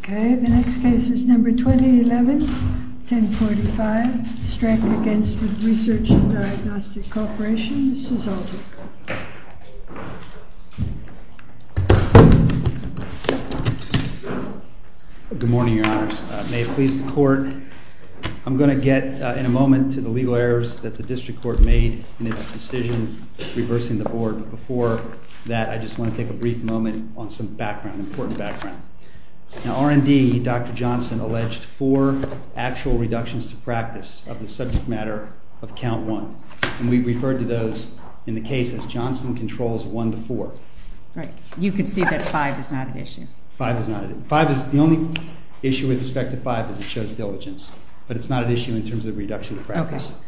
Okay, the next case is number 2011-1045, STRECK v. RESEARCH & DIAGNOSTIC CORPORATION. Mr. Zoltyk. Good morning, Your Honors. May it please the Court, I'm going to get in a moment to the legal errors that the District Court made in its decision reversing the Board, but before that I just want to take a brief moment on some background, important background. Now R&D, Dr. Johnson, alleged four actual reductions to practice of the subject matter of count one, and we referred to those in the case as Johnson controls one to four. Right. You can see that five is not an issue. Five is not an issue. The only issue with respect to five is it shows diligence, but it's not an issue in terms of reduction to practice. Okay.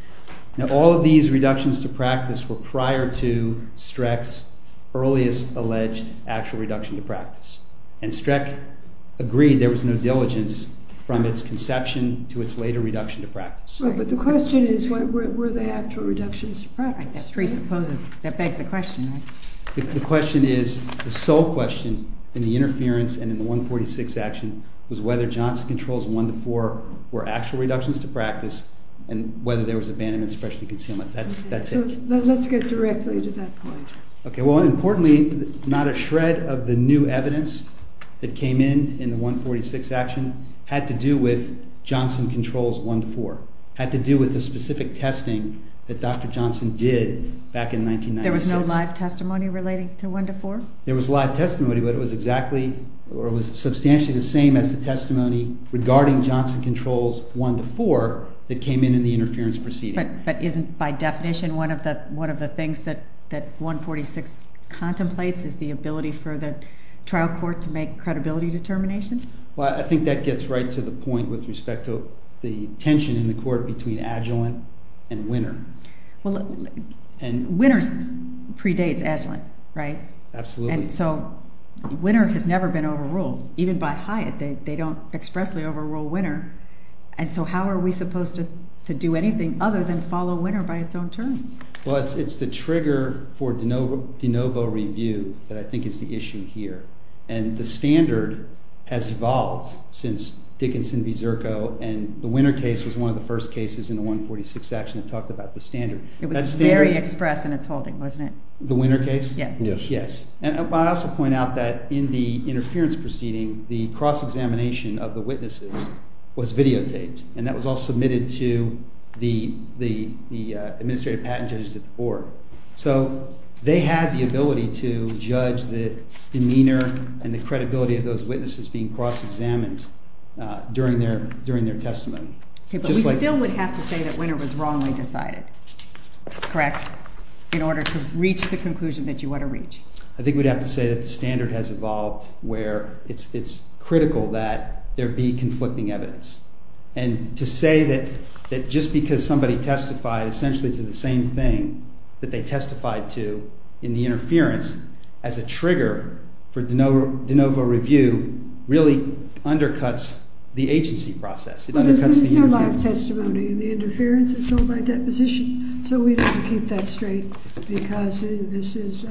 Now all of these reductions to practice were prior to STRECK's earliest alleged actual reduction to practice, and STRECK agreed there was no diligence from its conception to its later reduction to practice. Right, but the question is, were there actual reductions to practice? That begs the question. The question is, the sole question in the interference and in the 146 action was whether Johnson controls one to four were actual reductions to practice and whether there was abandonment, especially concealment. That's it. Let's get directly to that point. Okay. Well, importantly, not a shred of the new evidence that came in in the 146 action had to do with Johnson controls one to four, had to do with the specific testing that Dr. Johnson did back in 1996. There was no live testimony relating to one to four? There was live testimony, but it was exactly or it was substantially the same as the testimony regarding Johnson controls one to four that came in in the interference proceeding. But isn't, by definition, one of the things that 146 contemplates is the ability for the trial court to make credibility determinations? Well, I think that gets right to the point with respect to the tension in the court between adjuvant and winner. Well, winners predates adjuvant, right? Absolutely. And so winner has never been overruled. Even by Hyatt, they don't expressly overrule winner. And so how are we supposed to do anything other than follow winner by its own terms? Well, it's the trigger for de novo review that I think is the issue here. And the standard has evolved since Dickinson v. Zirko, and the winner case was one of the first cases in the 146 action that talked about the standard. It was very express in its holding, wasn't it? The winner case? Yes. And I also point out that in the interference proceeding, the cross-examination of the witnesses was videotaped, and that was all submitted to the administrative patent judges at the board. So they had the ability to judge the demeanor and the credibility of those witnesses being cross-examined during their testimony. Okay, but we still would have to say that winner was wrongly decided, correct, in order to reach the conclusion that you want to reach? I think we'd have to say that the standard has evolved where it's critical that there be conflicting evidence. And to say that just because somebody testified essentially to the same thing that they testified to in the interference as a trigger for de novo review really undercuts the agency process. It undercuts the interference. But this is no live testimony. The interference is sold by deposition. So we'd have to keep that straight because this is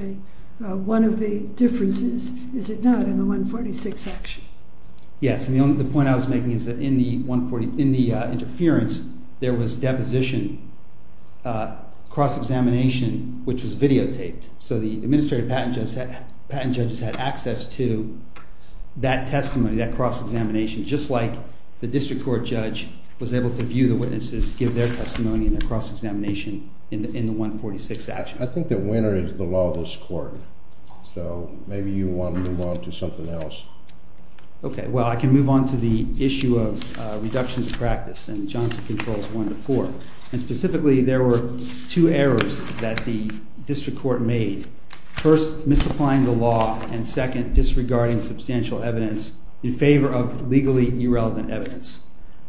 one of the differences, is it not, in the 146 action? Yes, and the point I was making is that in the interference, there was deposition cross-examination, which was videotaped. So the administrative patent judges had access to that testimony, that cross-examination, just like the district court judge was able to view the witnesses, give their testimony, and their cross-examination in the 146 action. I think that winner is the law of this court. So maybe you want to move on to something else. Okay. Well, I can move on to the issue of reductions of practice in Johnson Controls 1 to 4. And specifically, there were two errors that the district court made. First, misapplying the law, and second, disregarding substantial evidence in favor of legally irrelevant evidence.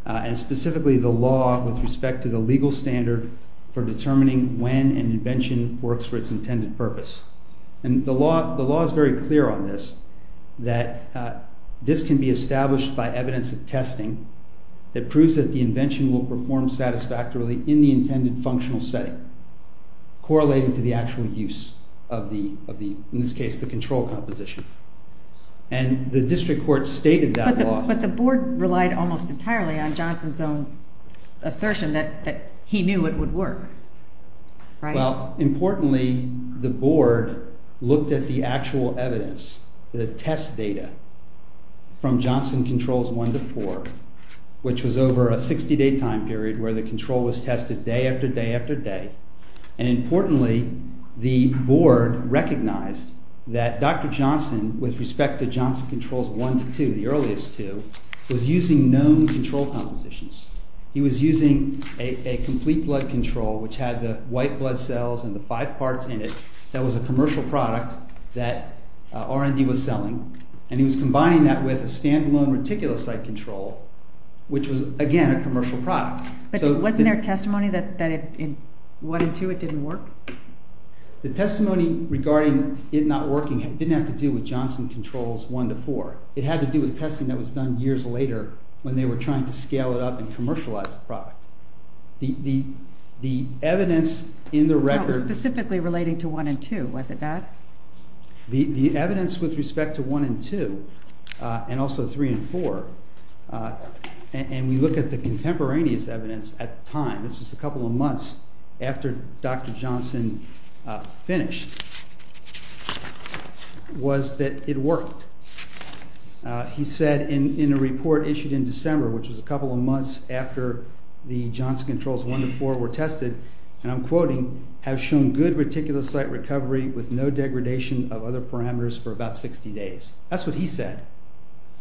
And specifically, the law with respect to the legal standard for determining when an invention works for its intended purpose. And the law is very clear on this, that this can be established by evidence of testing that proves that the invention will perform satisfactorily in the intended functional setting, correlating to the actual use of the, in this case, the control composition. And the district court stated that law. But the board relied almost entirely on Johnson's own assertion that he knew it would work, right? Well, importantly, the board looked at the actual evidence, the test data from Johnson Controls 1 to 4, which was over a 60-day time period where the control was tested day after day after day. And importantly, the board recognized that Dr. Johnson, with respect to Johnson Controls 1 to 2, the earliest two, was using known control compositions. He was using a complete blood control, which had the white blood cells and the five parts in it that was a commercial product that R&D was selling, and he was combining that with a standalone reticulocyte control, which was, again, a commercial product. But wasn't there testimony that in 1 and 2 it didn't work? The testimony regarding it not working didn't have to do with Johnson Controls 1 to 4. It had to do with testing that was done years later when they were trying to scale it up and commercialize the product. The evidence in the record... It was specifically relating to 1 and 2, was it not? The evidence with respect to 1 and 2, and also 3 and 4, and we look at the contemporaneous evidence at the time, this is a couple of months after Dr. Johnson finished, was that it worked. He said in a report issued in December, which was a couple of months after the Johnson Controls 1 to 4 were tested, and I'm quoting, have shown good reticulocyte recovery with no degradation of other parameters for about 60 days. That's what he said.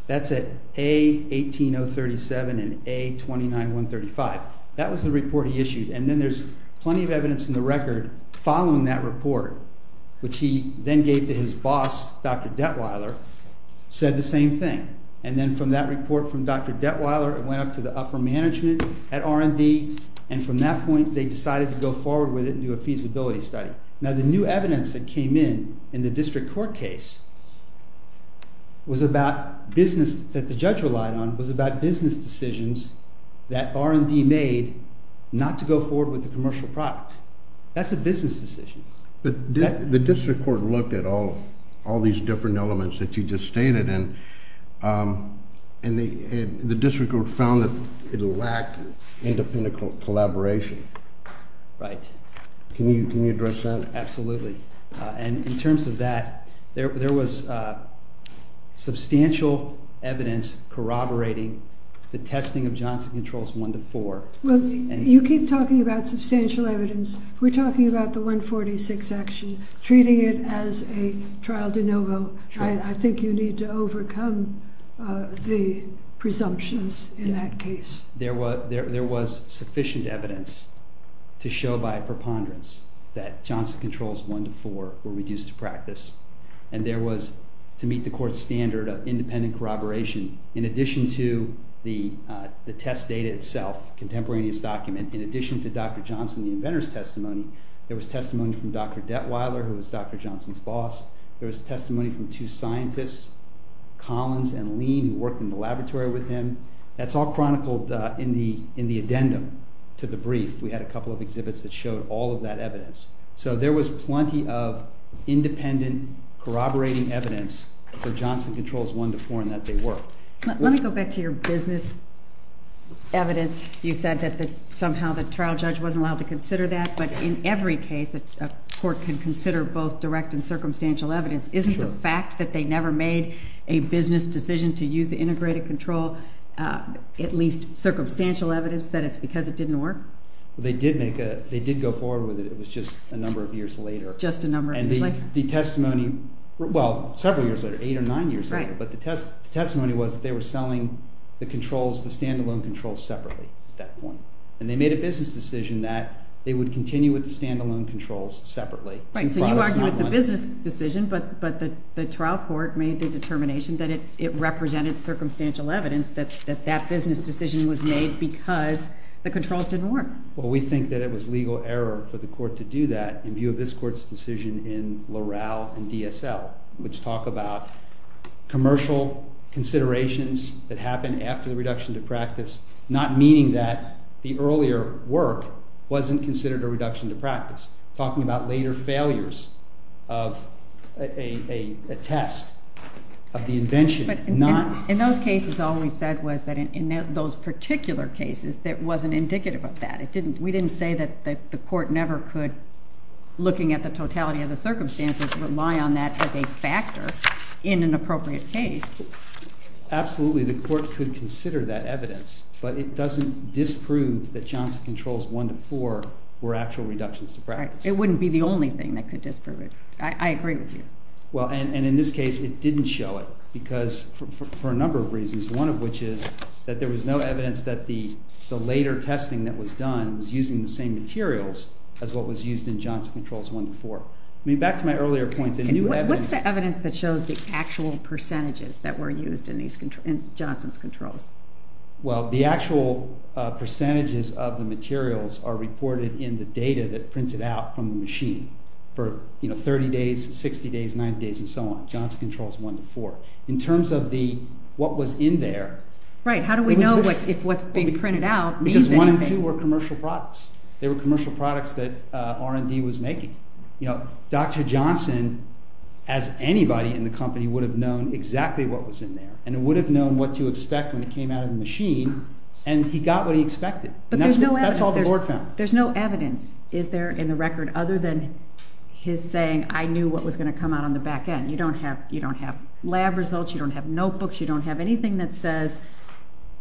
That's at A18037 and A29135. And then there's plenty of evidence in the record following that report, which he then gave to his boss, Dr. Detweiler, said the same thing. And then from that report from Dr. Detweiler it went up to the upper management at R&D, and from that point they decided to go forward with it and do a feasibility study. Now the new evidence that came in in the district court case was about business that the judge relied on, was about business decisions that R&D made not to go forward with the commercial product. That's a business decision. But the district court looked at all these different elements that you just stated, and the district court found that it lacked independent collaboration. Right. Can you address that? Absolutely. And in terms of that, there was substantial evidence corroborating the testing of Johnson Controls 1 to 4. Well, you keep talking about substantial evidence. We're talking about the 146 action, treating it as a trial de novo. I think you need to overcome the presumptions in that case. There was sufficient evidence to show by a preponderance that Johnson Controls 1 to 4 were reduced to practice, and there was, to meet the court's standard of independent corroboration, in addition to the test data itself, contemporaneous document, in addition to Dr. Johnson, the inventor's testimony. There was testimony from Dr. Detweiler, who was Dr. Johnson's boss. There was testimony from two scientists, Collins and Lean, who worked in the laboratory with him. That's all chronicled in the addendum to the brief. We had a couple of exhibits that showed all of that evidence. So there was plenty of independent corroborating evidence for Johnson Controls 1 to 4 in that they were. Let me go back to your business evidence. You said that somehow the trial judge wasn't allowed to consider that, but in every case a court can consider both direct and circumstantial evidence. Isn't the fact that they never made a business decision to use the integrated control at least circumstantial evidence that it's because it didn't work? They did go forward with it. It was just a number of years later. Just a number of years later. And the testimony, well, several years later, eight or nine years later, but the testimony was that they were selling the controls, the stand-alone controls, separately at that point. And they made a business decision that they would continue with the stand-alone controls separately. Right, so you argue it's a business decision, but the trial court made the determination that it represented circumstantial evidence that that business decision was made because the controls didn't work. Well, we think that it was legal error for the court to do that in view of this court's decision in Loral and DSL, which talk about commercial considerations that happen after the reduction to practice, not meaning that the earlier work wasn't considered a reduction to practice. Talking about later failures of a test of the invention. But in those cases, all we said was that in those particular cases, it wasn't indicative of that. We didn't say that the court never could, looking at the totality of the circumstances, rely on that as a factor in an appropriate case. Absolutely, the court could consider that evidence, but it doesn't disprove that Johnson Controls I-IV were actual reductions to practice. Right, it wouldn't be the only thing that could disprove it. I agree with you. Well, and in this case, it didn't show it, because for a number of reasons, one of which is that there was no evidence that the later testing that was done was using the same materials as what was used in Johnson Controls I-IV. I mean, back to my earlier point, the new evidence... What's the evidence that shows the actual percentages that were used in Johnson's controls? Well, the actual percentages of the materials are reported in the data that's printed out from the machine for 30 days, 60 days, 90 days, and so on, Johnson Controls I-IV. In terms of what was in there... Right, how do we know if what's being printed out means anything? Because I-IV were commercial products. They were commercial products that R&D was making. You know, Dr. Johnson, as anybody in the company, would have known exactly what was in there, and would have known what to expect when it came out of the machine, and he got what he expected. But there's no evidence. That's all the board found. There's no evidence, is there, in the record, other than his saying, I knew what was going to come out on the back end. You don't have lab results, you don't have notebooks, you don't have anything that says,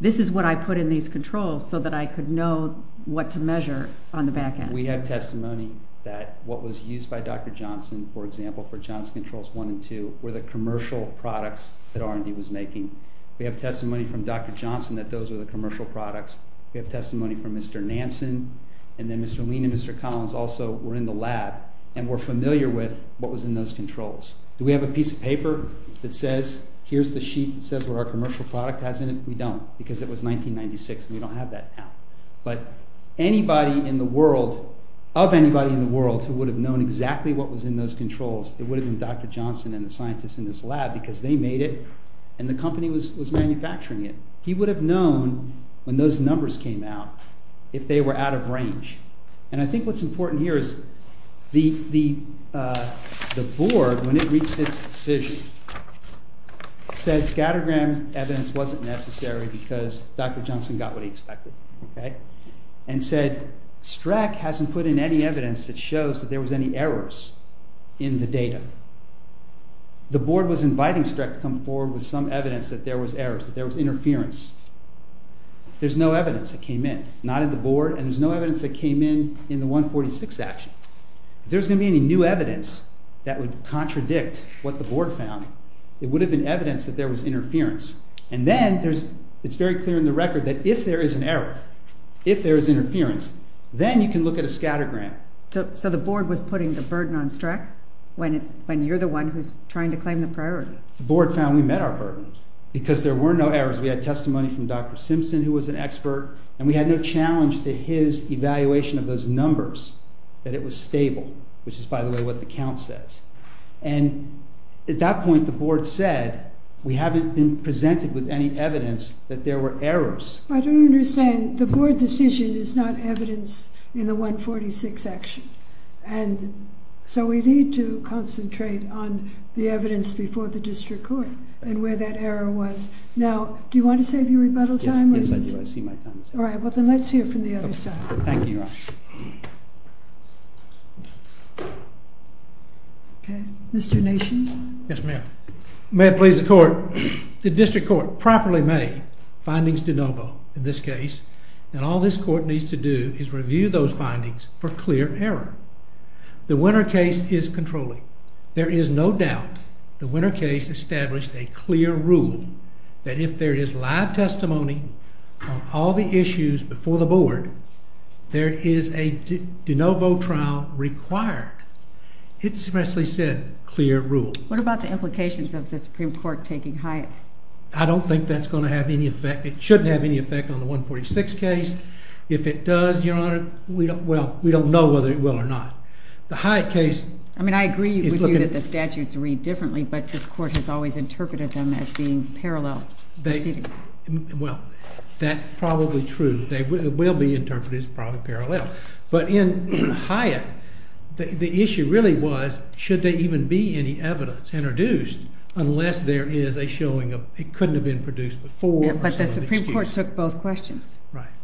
this is what I put in these controls so that I could know what to measure on the back end. We have testimony that what was used by Dr. Johnson, for example, for Johnson Controls I and II, were the commercial products that R&D was making. We have testimony from Dr. Johnson that those were the commercial products. We have testimony from Mr. Nansen, and then Mr. Lean and Mr. Collins also were in the lab and were familiar with what was in those controls. Do we have a piece of paper that says, here's the sheet that says what our commercial product has in it? We don't, because it was 1996, and we don't have that now. But anybody in the world, of anybody in the world, who would have known exactly what was in those controls, it would have been Dr. Johnson and the scientists in this lab, because they made it, and the company was manufacturing it. He would have known, when those numbers came out, if they were out of range. And I think what's important here is the board, when it reached its decision, said scattergram evidence wasn't necessary because Dr. Johnson got what he expected. And said STRAC hasn't put in any evidence that shows that there was any errors in the data. The board was inviting STRAC to come forward with some evidence that there was errors, that there was interference. There's no evidence that came in, not at the board, and there's no evidence that came in in the 146 action. If there's going to be any new evidence that would contradict what the board found, it would have been evidence that there was interference. And then it's very clear in the record that if there is an error, if there is interference, then you can look at a scattergram. So the board was putting the burden on STRAC when you're the one who's trying to claim the priority? The board found we met our burden, because there were no errors. We had testimony from Dr. Simpson, who was an expert, and we had no challenge to his evaluation of those numbers, that it was stable, which is, by the way, what the count says. And at that point, the board said, we haven't been presented with any evidence that there were errors. I don't understand. The board decision is not evidence in the 146 action. And so we need to concentrate on the evidence before the district court and where that error was. Now, do you want to save your rebuttal time? Yes, I do. I see my time is up. All right, well, then let's hear from the other side. Thank you, Your Honor. Okay. Mr. Nation? Yes, ma'am. May it please the court. The district court properly made findings de novo in this case, and all this court needs to do is review those findings for clear error. The winner case is controlling. There is no doubt the winner case established a clear rule that if there is live testimony on all the issues before the board, there is a de novo trial required. It expressly said clear rule. What about the implications of the Supreme Court taking Hyatt? I don't think that's going to have any effect. It shouldn't have any effect on the 146 case. If it does, Your Honor, well, we don't know whether it will or not. The Hyatt case... I mean, I agree with you that the statutes read differently, but this court has always interpreted them as being parallel proceedings. Well, that's probably true. It will be interpreted as probably parallel. But in Hyatt, the issue really was should there even be any evidence introduced unless there is a showing of... It couldn't have been produced before. But the Supreme Court took both questions.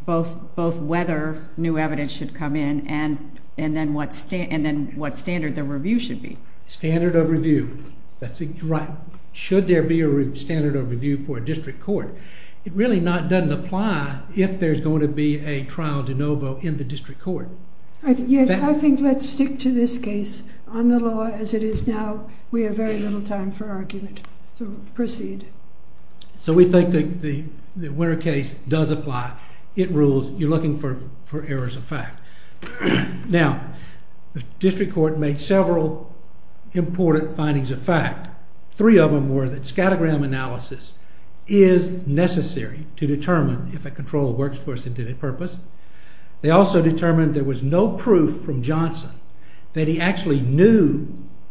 Both whether new evidence should come in and then what standard the review should be. Standard of review. Right. Should there be a standard of review for a district court? It really doesn't apply if there's going to be a trial de novo in the district court. Yes, I think let's stick to this case. On the law as it is now, we have very little time for argument. So proceed. So we think the winner case does apply. It rules. You're looking for errors of fact. Now, the district court made several important findings of fact. Three of them were that scattergram analysis is necessary to determine if a control works for a specific purpose. They also determined there was no proof from Johnson that he actually knew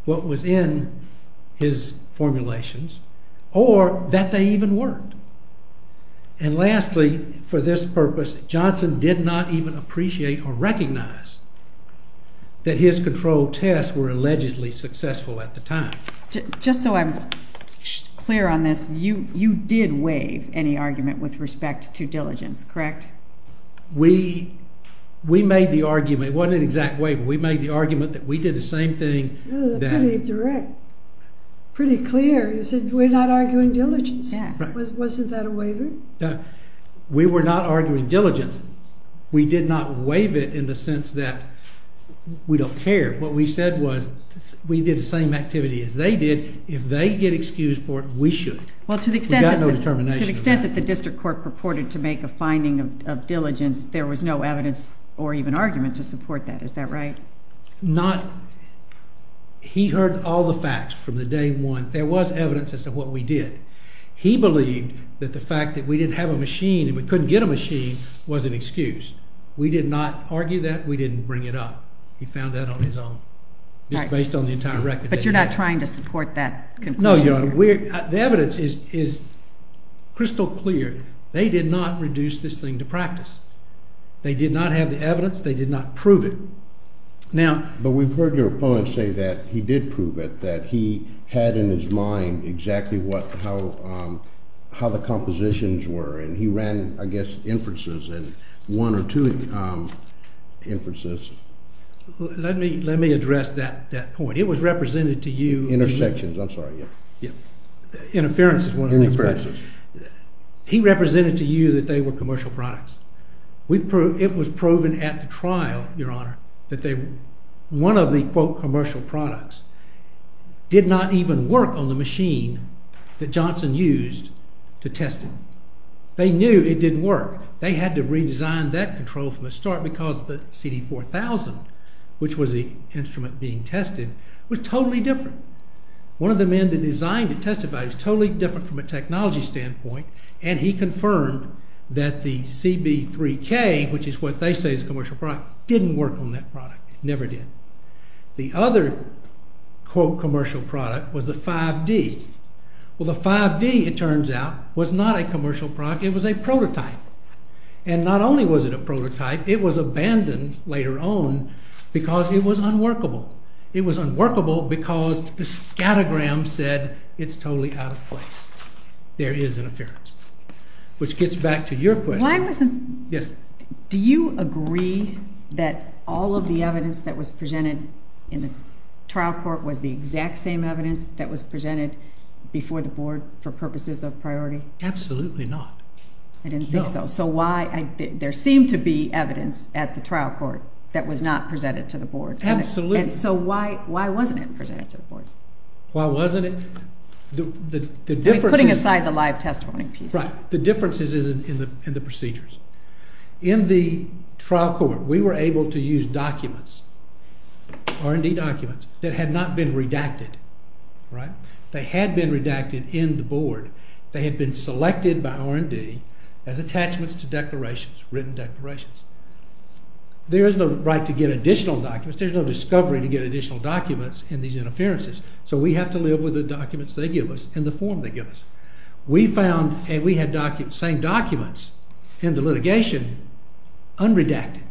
what was in his formulations or that they even worked. And lastly, for this purpose, Johnson did not even appreciate or recognize that his control tests were allegedly successful at the time. Just so I'm clear on this, you did waive any argument with respect to diligence, correct? We made the argument. It wasn't an exact waiver. We made the argument that we did the same thing. That was pretty direct, pretty clear. You said we're not arguing diligence. Wasn't that a waiver? We were not arguing diligence. We did not waive it in the sense that we don't care. What we said was we did the same activity as they did. If they get excused for it, we should. Well, to the extent that the district court purported to make a finding of diligence, there was no evidence or even argument to support that. Is that right? Not. He heard all the facts from the day one. There was evidence as to what we did. He believed that the fact that we didn't have a machine and we couldn't get a machine was an excuse. We did not argue that. We didn't bring it up. He found that on his own, just based on the entire record. But you're not trying to support that conclusion? No, Your Honor. The evidence is crystal clear. They did not reduce this thing to practice. They did not have the evidence. They did not prove it. But we've heard your opponent say that he did prove it, that he had in his mind exactly how the compositions were. And he ran, I guess, inferences, one or two inferences. Let me address that point. It was represented to you. Intersections. I'm sorry. Interferences, one of the inferences. He represented to you that they were commercial products. It was proven at the trial, Your Honor, that one of the, quote, commercial products did not even work on the machine that Johnson used to test it. They knew it didn't work. They had to redesign that control from the start because the CD4000, which was the instrument being tested, was totally different. One of the men that designed it testified it was totally different from a technology standpoint, and he confirmed that the CB3K, which is what they say is a commercial product, didn't work on that product. It never did. The other, quote, commercial product was the 5D. Well, the 5D, it turns out, was not a commercial product. It was a prototype. And not only was it a prototype, it was abandoned later on because it was unworkable. It was unworkable because the scattergram said it's totally out of place. There is interference. Which gets back to your question. Yes? Do you agree that all of the evidence that was presented in the trial court was the exact same evidence that was presented before the board for purposes of priority? Absolutely not. I didn't think so. So why? There seemed to be evidence at the trial court that was not presented to the board. Absolutely. And so why wasn't it presented to the board? Why wasn't it? Putting aside the live testimony piece. Right. The difference is in the procedures. In the trial court, we were able to use documents, R&D documents, that had not been redacted. They had been redacted in the board. They had been selected by R&D as attachments to declarations, written declarations. There is no right to get additional documents. There's no discovery to get additional documents in these interferences. So we have to live with the documents they give us and the form they give us. We found, and we had documents, same documents, in the litigation, unredacted.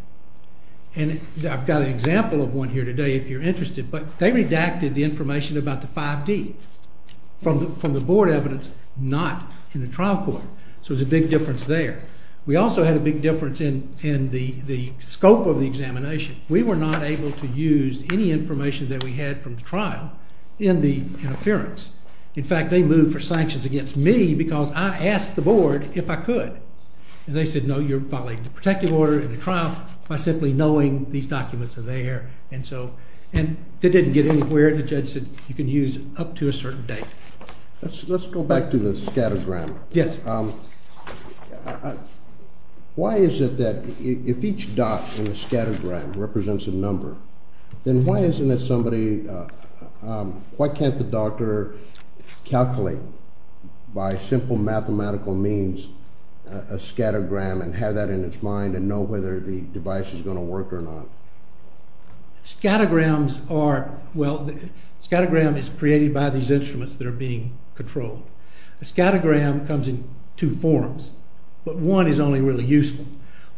And I've got an example of one here today if you're interested, but they redacted the information about the 5D from the board evidence, not in the trial court. So there's a big difference there. We also had a big difference in the scope of the examination. We were not able to use any information that we had from the trial in the interference. In fact, they moved for sanctions against me because I asked the board if I could. And they said, no, you're violating the protective order in the trial by simply knowing these documents are there. And it didn't get anywhere. And the judge said, you can use up to a certain date. Let's go back to the scattergram. Yes. Why is it that if each dot in the scattergram represents a number, then why can't the doctor calculate by simple mathematical means a scattergram and have that in its mind and know whether the device is going to work or not? Scattergrams are, well, scattergram is created by these instruments that are being controlled. A scattergram comes in two forms, but one is only really useful.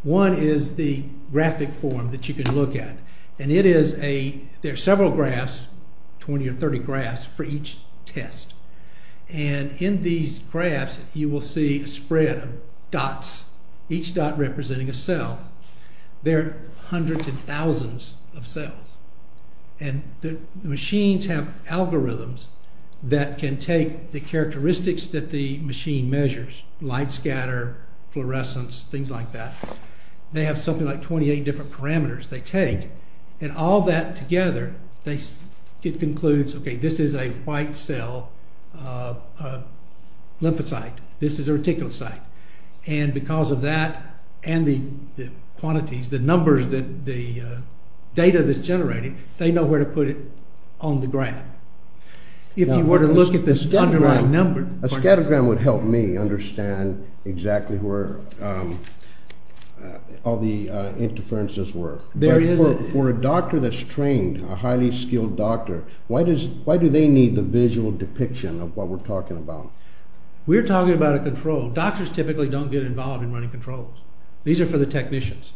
One is the graphic form that you can look at. And it is a, there are several graphs, 20 or 30 graphs for each test. And in these graphs, you will see a spread of dots, each dot representing a cell. There are hundreds and thousands of cells. And the machines have algorithms that can take the characteristics that the machine measures, light scatter, fluorescence, things like that. They have something like 28 different parameters they take. And all that together, it concludes, okay, this is a white cell lymphocyte. This is a reticulocyte. And because of that and the quantities, the numbers, the data that's generated, they know where to put it on the graph. If you were to look at this underlying number. A scattergram would help me understand exactly where all the interferences were. There is a. For a doctor that's trained, a highly skilled doctor, why do they need the visual depiction of what we're talking about? We're talking about a control. Doctors typically don't get involved in running controls. These are for the technicians.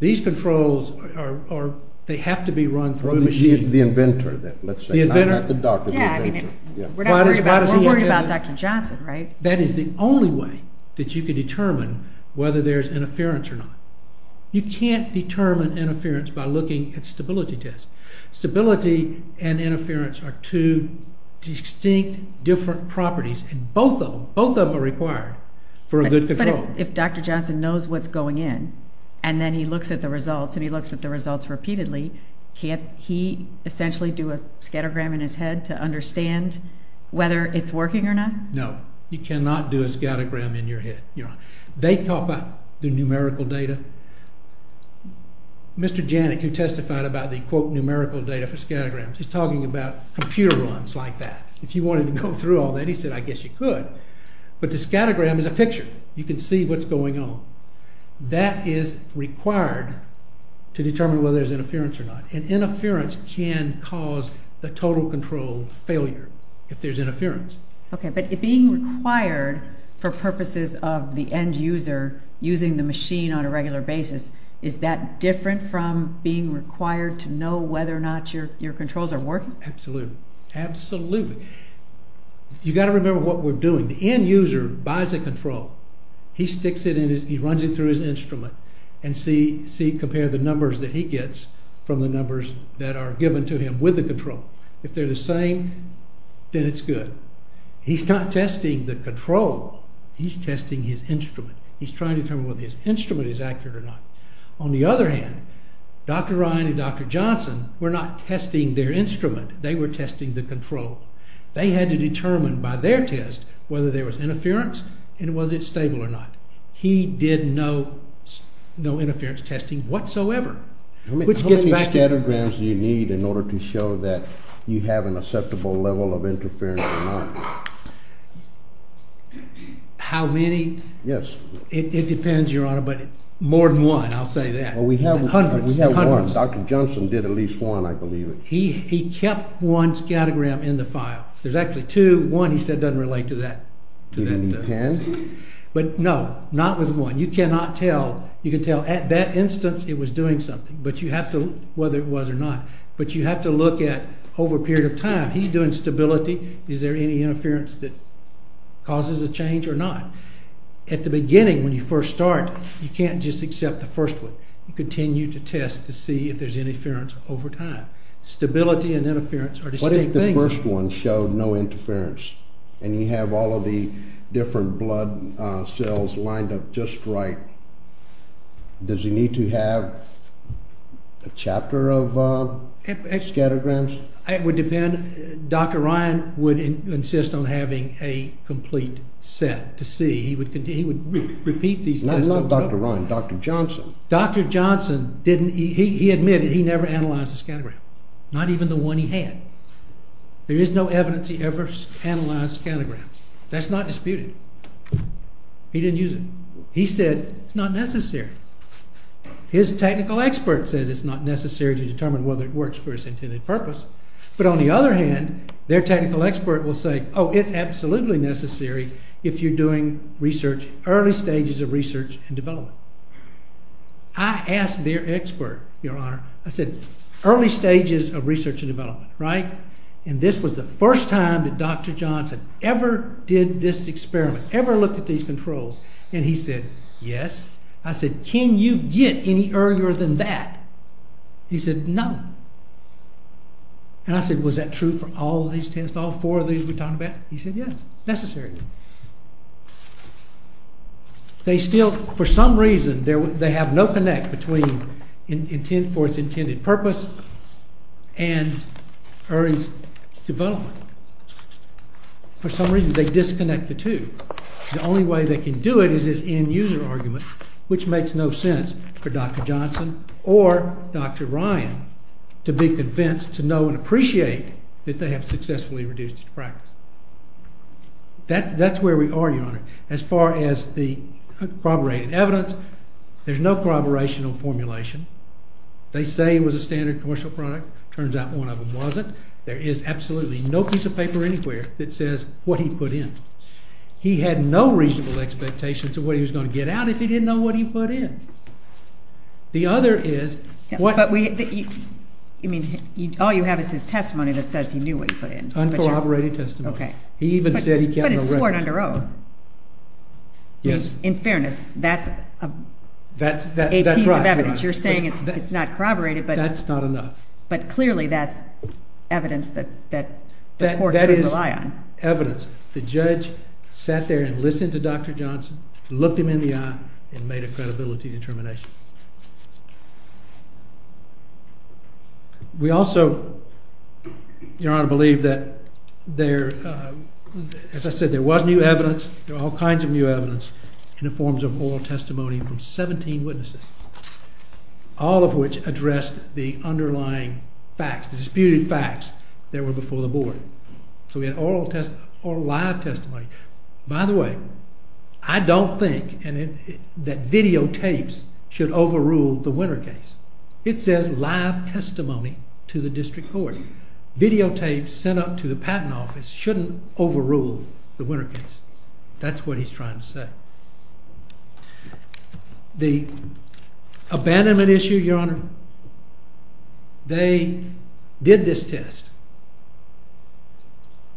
These controls are, they have to be run through a machine. The inventor then, let's say, not the doctor. Yeah, I mean, we're not worried about, we're worried about Dr. Johnson, right? That is the only way that you can determine whether there's interference or not. You can't determine interference by looking at stability tests. Stability and interference are two distinct different properties, and both of them, both of them are required for a good control. But if Dr. Johnson knows what's going in and then he looks at the results and he looks at the results repeatedly, can't he essentially do a scattergram in his head to understand whether it's working or not? No, you cannot do a scattergram in your head. They top up the numerical data. Mr. Janik, who testified about the, quote, numerical data for scattergrams, he's talking about computer runs like that. If you wanted to go through all that, he said, I guess you could. But the scattergram is a picture. You can see what's going on. That is required to determine whether there's interference or not. And interference can cause the total control failure if there's interference. Okay, but being required for purposes of the end user using the machine on a regular basis, is that different from being required to know whether or not your controls are working? Absolutely, absolutely. You've got to remember what we're doing. The end user buys a control. He sticks it in his, he runs it through his instrument and see, compare the numbers that he gets from the numbers that are given to him with the control. He's not testing the control. He's testing his instrument. He's trying to determine whether his instrument is accurate or not. On the other hand, Dr. Ryan and Dr. Johnson were not testing their instrument. They were testing the control. They had to determine by their test whether there was interference and was it stable or not. He did no interference testing whatsoever. How many scattergrams do you need in order to show that you have an acceptable level of interference or not? How many? Yes. It depends, Your Honor, but more than one, I'll say that. Well, we have one. Hundreds, hundreds. Dr. Johnson did at least one, I believe. He kept one scattergram in the file. There's actually two. One, he said, doesn't relate to that. Do you need ten? But no, not with one. You cannot tell. You can tell at that instance it was doing something, whether it was or not. But you have to look at over a period of time. He's doing stability. Is there any interference that causes a change or not? At the beginning, when you first start, you can't just accept the first one. You continue to test to see if there's interference over time. Stability and interference are distinct things. What if the first one showed no interference and you have all of the different blood cells lined up just right? Does he need to have a chapter of scattergrams? It would depend. Dr. Ryan would insist on having a complete set to see. He would repeat these tests over and over. Not Dr. Ryan, Dr. Johnson. Dr. Johnson, he admitted he never analyzed a scattergram, not even the one he had. There is no evidence he ever analyzed a scattergram. That's not disputed. He didn't use it. He said it's not necessary. His technical expert says it's not necessary to determine whether it works for its intended purpose. But on the other hand, their technical expert will say, oh, it's absolutely necessary if you're doing research, early stages of research and development. I asked their expert, Your Honor, I said, early stages of research and development, right? And this was the first time that Dr. Johnson ever did this experiment, ever looked at these controls. And he said, yes. I said, can you get any earlier than that? He said, no. And I said, was that true for all these tests, all four of these we're talking about? He said, yes, necessary. They still, for some reason, they have no connect between for its intended purpose and early development. For some reason, they disconnect the two. The only way they can do it is this end-user argument, which makes no sense for Dr. Johnson or Dr. Ryan to be convinced, to know, and appreciate that they have successfully reduced its practice. That's where we are, Your Honor. As far as the corroborated evidence, there's no corroborational formulation. They say it was a standard commercial product. Turns out one of them wasn't. There is absolutely no piece of paper anywhere that says what he put in. He had no reasonable expectations of what he was going to get out if he didn't know what he put in. The other is, what? You mean, all you have is his testimony that says he knew what he put in. Uncorroborated testimony. OK. He even said he kept a record. But it's sworn under oath. Yes. In fairness, that's a piece of evidence. You're saying it's not corroborated, but. That's not enough. But clearly, that's evidence that the court could rely on. That is evidence. The judge sat there and listened to Dr. Johnson, looked him in the eye, and made a credibility determination. We also, Your Honor, believe that there, as I said, there was new evidence. There were all kinds of new evidence in the forms of oral testimony from 17 witnesses. All of which addressed the underlying facts, the disputed facts that were before the board. So we had oral live testimony. By the way, I don't think that videotapes should overrule the winner case. It says live testimony to the district court. Videotapes sent up to the patent office shouldn't overrule the winner case. That's what he's trying to say. The abandonment issue, Your Honor, they did this test.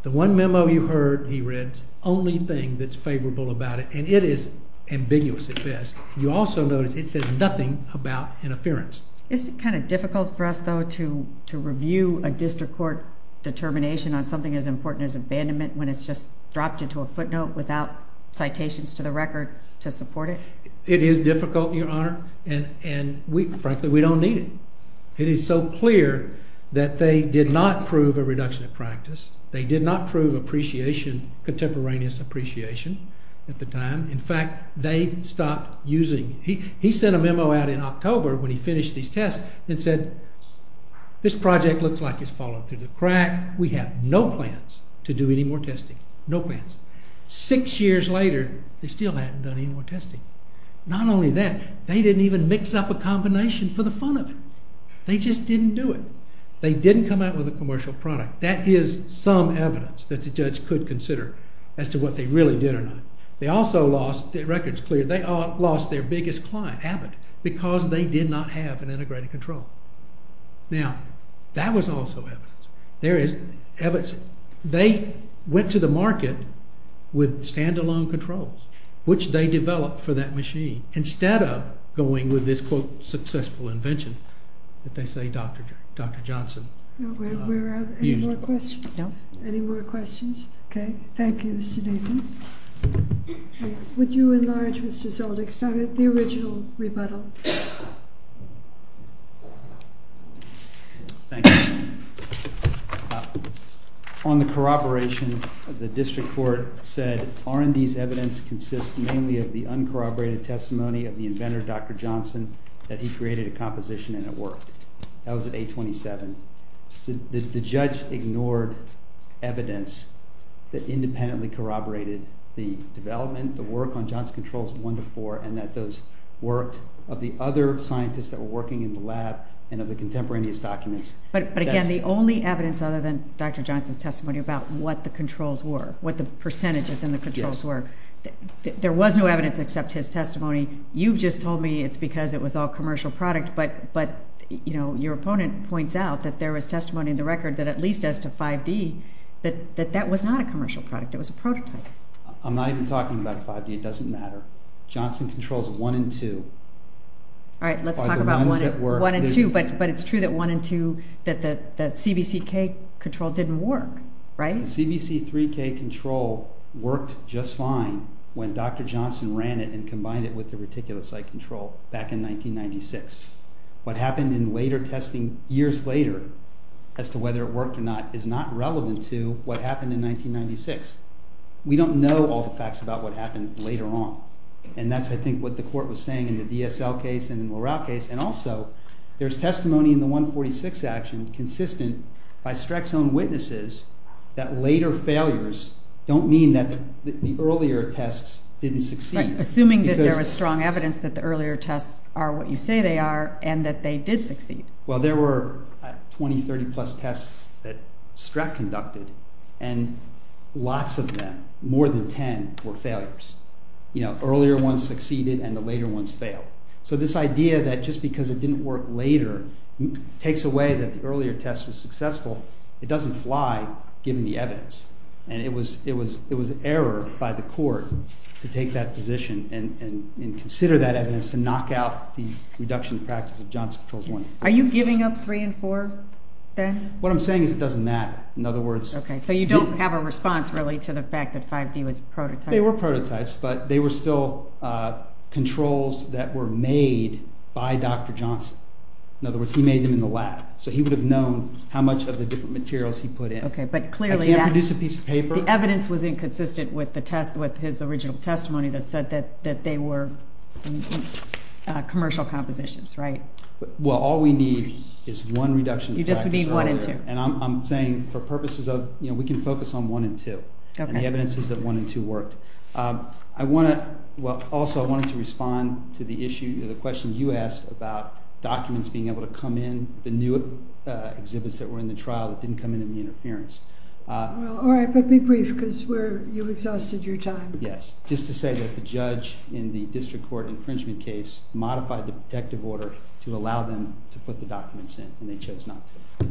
The one memo you heard, he read, only thing that's favorable about it. And it is ambiguous at best. You also notice it says nothing about interference. Isn't it kind of difficult for us, though, to review a district court determination on something as important as abandonment when it's just dropped into a footnote without citations to the record to support it? It is difficult, Your Honor. And frankly, we don't need it. It is so clear that they did not prove a reduction of practice. They did not prove contemporaneous appreciation at the time. In fact, they stopped using it. He sent a memo out in October when he finished these tests and said, this project looks like it's falling through the crack. We have no plans to do any more testing. No plans. Six years later, they still hadn't done any more testing. Not only that, they didn't even mix up a combination for the fun of it. They just didn't do it. They didn't come out with a commercial product. That is some evidence that the judge could consider as to what they really did or not. They also lost, the record's clear, they lost their biggest client, Abbott, because they did not have an integrated control. Now, that was also evidence. They went to the market with standalone controls, which they developed for that machine, instead of going with this, quote, successful invention that they say Dr. Johnson used. Any more questions? No. Any more questions? OK. Thank you, Mr. Nathan. Would you enlarge, Mr. Zoldyck, the original rebuttal? Thank you. On the corroboration, the district court said R&D's evidence consists mainly of the uncorroborated testimony of the inventor, Dr. Johnson, that he created a composition and it worked. That was at 827. The judge ignored evidence that independently corroborated the development, the work on Johnson Controls 1 to 4, and that those worked, of the other scientists that were working in the lab, and of the contemporaneous documents. But again, the only evidence other than Dr. Johnson's testimony about what the controls were, what the percentages in the controls were, there was no evidence except his testimony. You've just told me it's because it was all commercial product, but your opponent points out that there was testimony in the record that at least as to 5D, that that was not a commercial product. It was a prototype. I'm not even talking about 5D. It doesn't matter. Johnson Controls 1 and 2 are the ones that work. All right. Let's talk about 1 and 2. But it's true that 1 and 2, that CBCK control didn't work, right? And CBC3K control worked just fine when Dr. Johnson ran it and combined it with the reticulocyte control back in 1996. What happened in later testing years later, as to whether it worked or not, is not relevant to what happened in 1996. We don't know all the facts about what happened later on, and that's, I think, what the court was saying in the DSL case and in the LaRouche case. And also, there's testimony in the 146 action, consistent by Streck's own witnesses, that later failures don't mean that the earlier tests didn't succeed. Right, assuming that there was strong evidence that the earlier tests are what you say they are and that they did succeed. Well, there were 20, 30-plus tests that Streck conducted, and lots of them, more than 10, were failures. You know, earlier ones succeeded and the later ones failed. So this idea that just because it didn't work later takes away that the earlier test was successful, it doesn't fly, given the evidence. And it was an error by the court to take that position and consider that evidence to knock out the reduction in practice of Johnson Controls 1. Are you giving up 3 and 4 then? What I'm saying is it doesn't matter. In other words... Okay, so you don't have a response, really, to the fact that 5D was prototyped. They were prototypes, but they were still controls that were made by Dr. Johnson. In other words, he made them in the lab. So he would have known how much of the different materials he put in. Okay, but clearly... I can't produce a piece of paper. The evidence was inconsistent with his original testimony that said that they were commercial compositions, right? Well, all we need is one reduction in practice earlier. You just need 1 and 2. And I'm saying for purposes of, you know, we can focus on 1 and 2. Okay. And the evidence is that 1 and 2 worked. I want to... Well, also I wanted to respond to the issue, to the question you asked about documents being able to come in, the new exhibits that were in the trial that didn't come in in the interference. Well, all right, but be brief, because you've exhausted your time. Yes. Just to say that the judge in the district court infringement case modified the protective order to allow them to put the documents in, and they chose not to.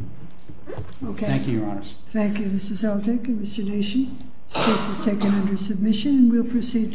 Okay. Thank you, Your Honors. Thank you, Mr. Seltyk and Mr. Dacian. This case is taken under submission, and we'll proceed to...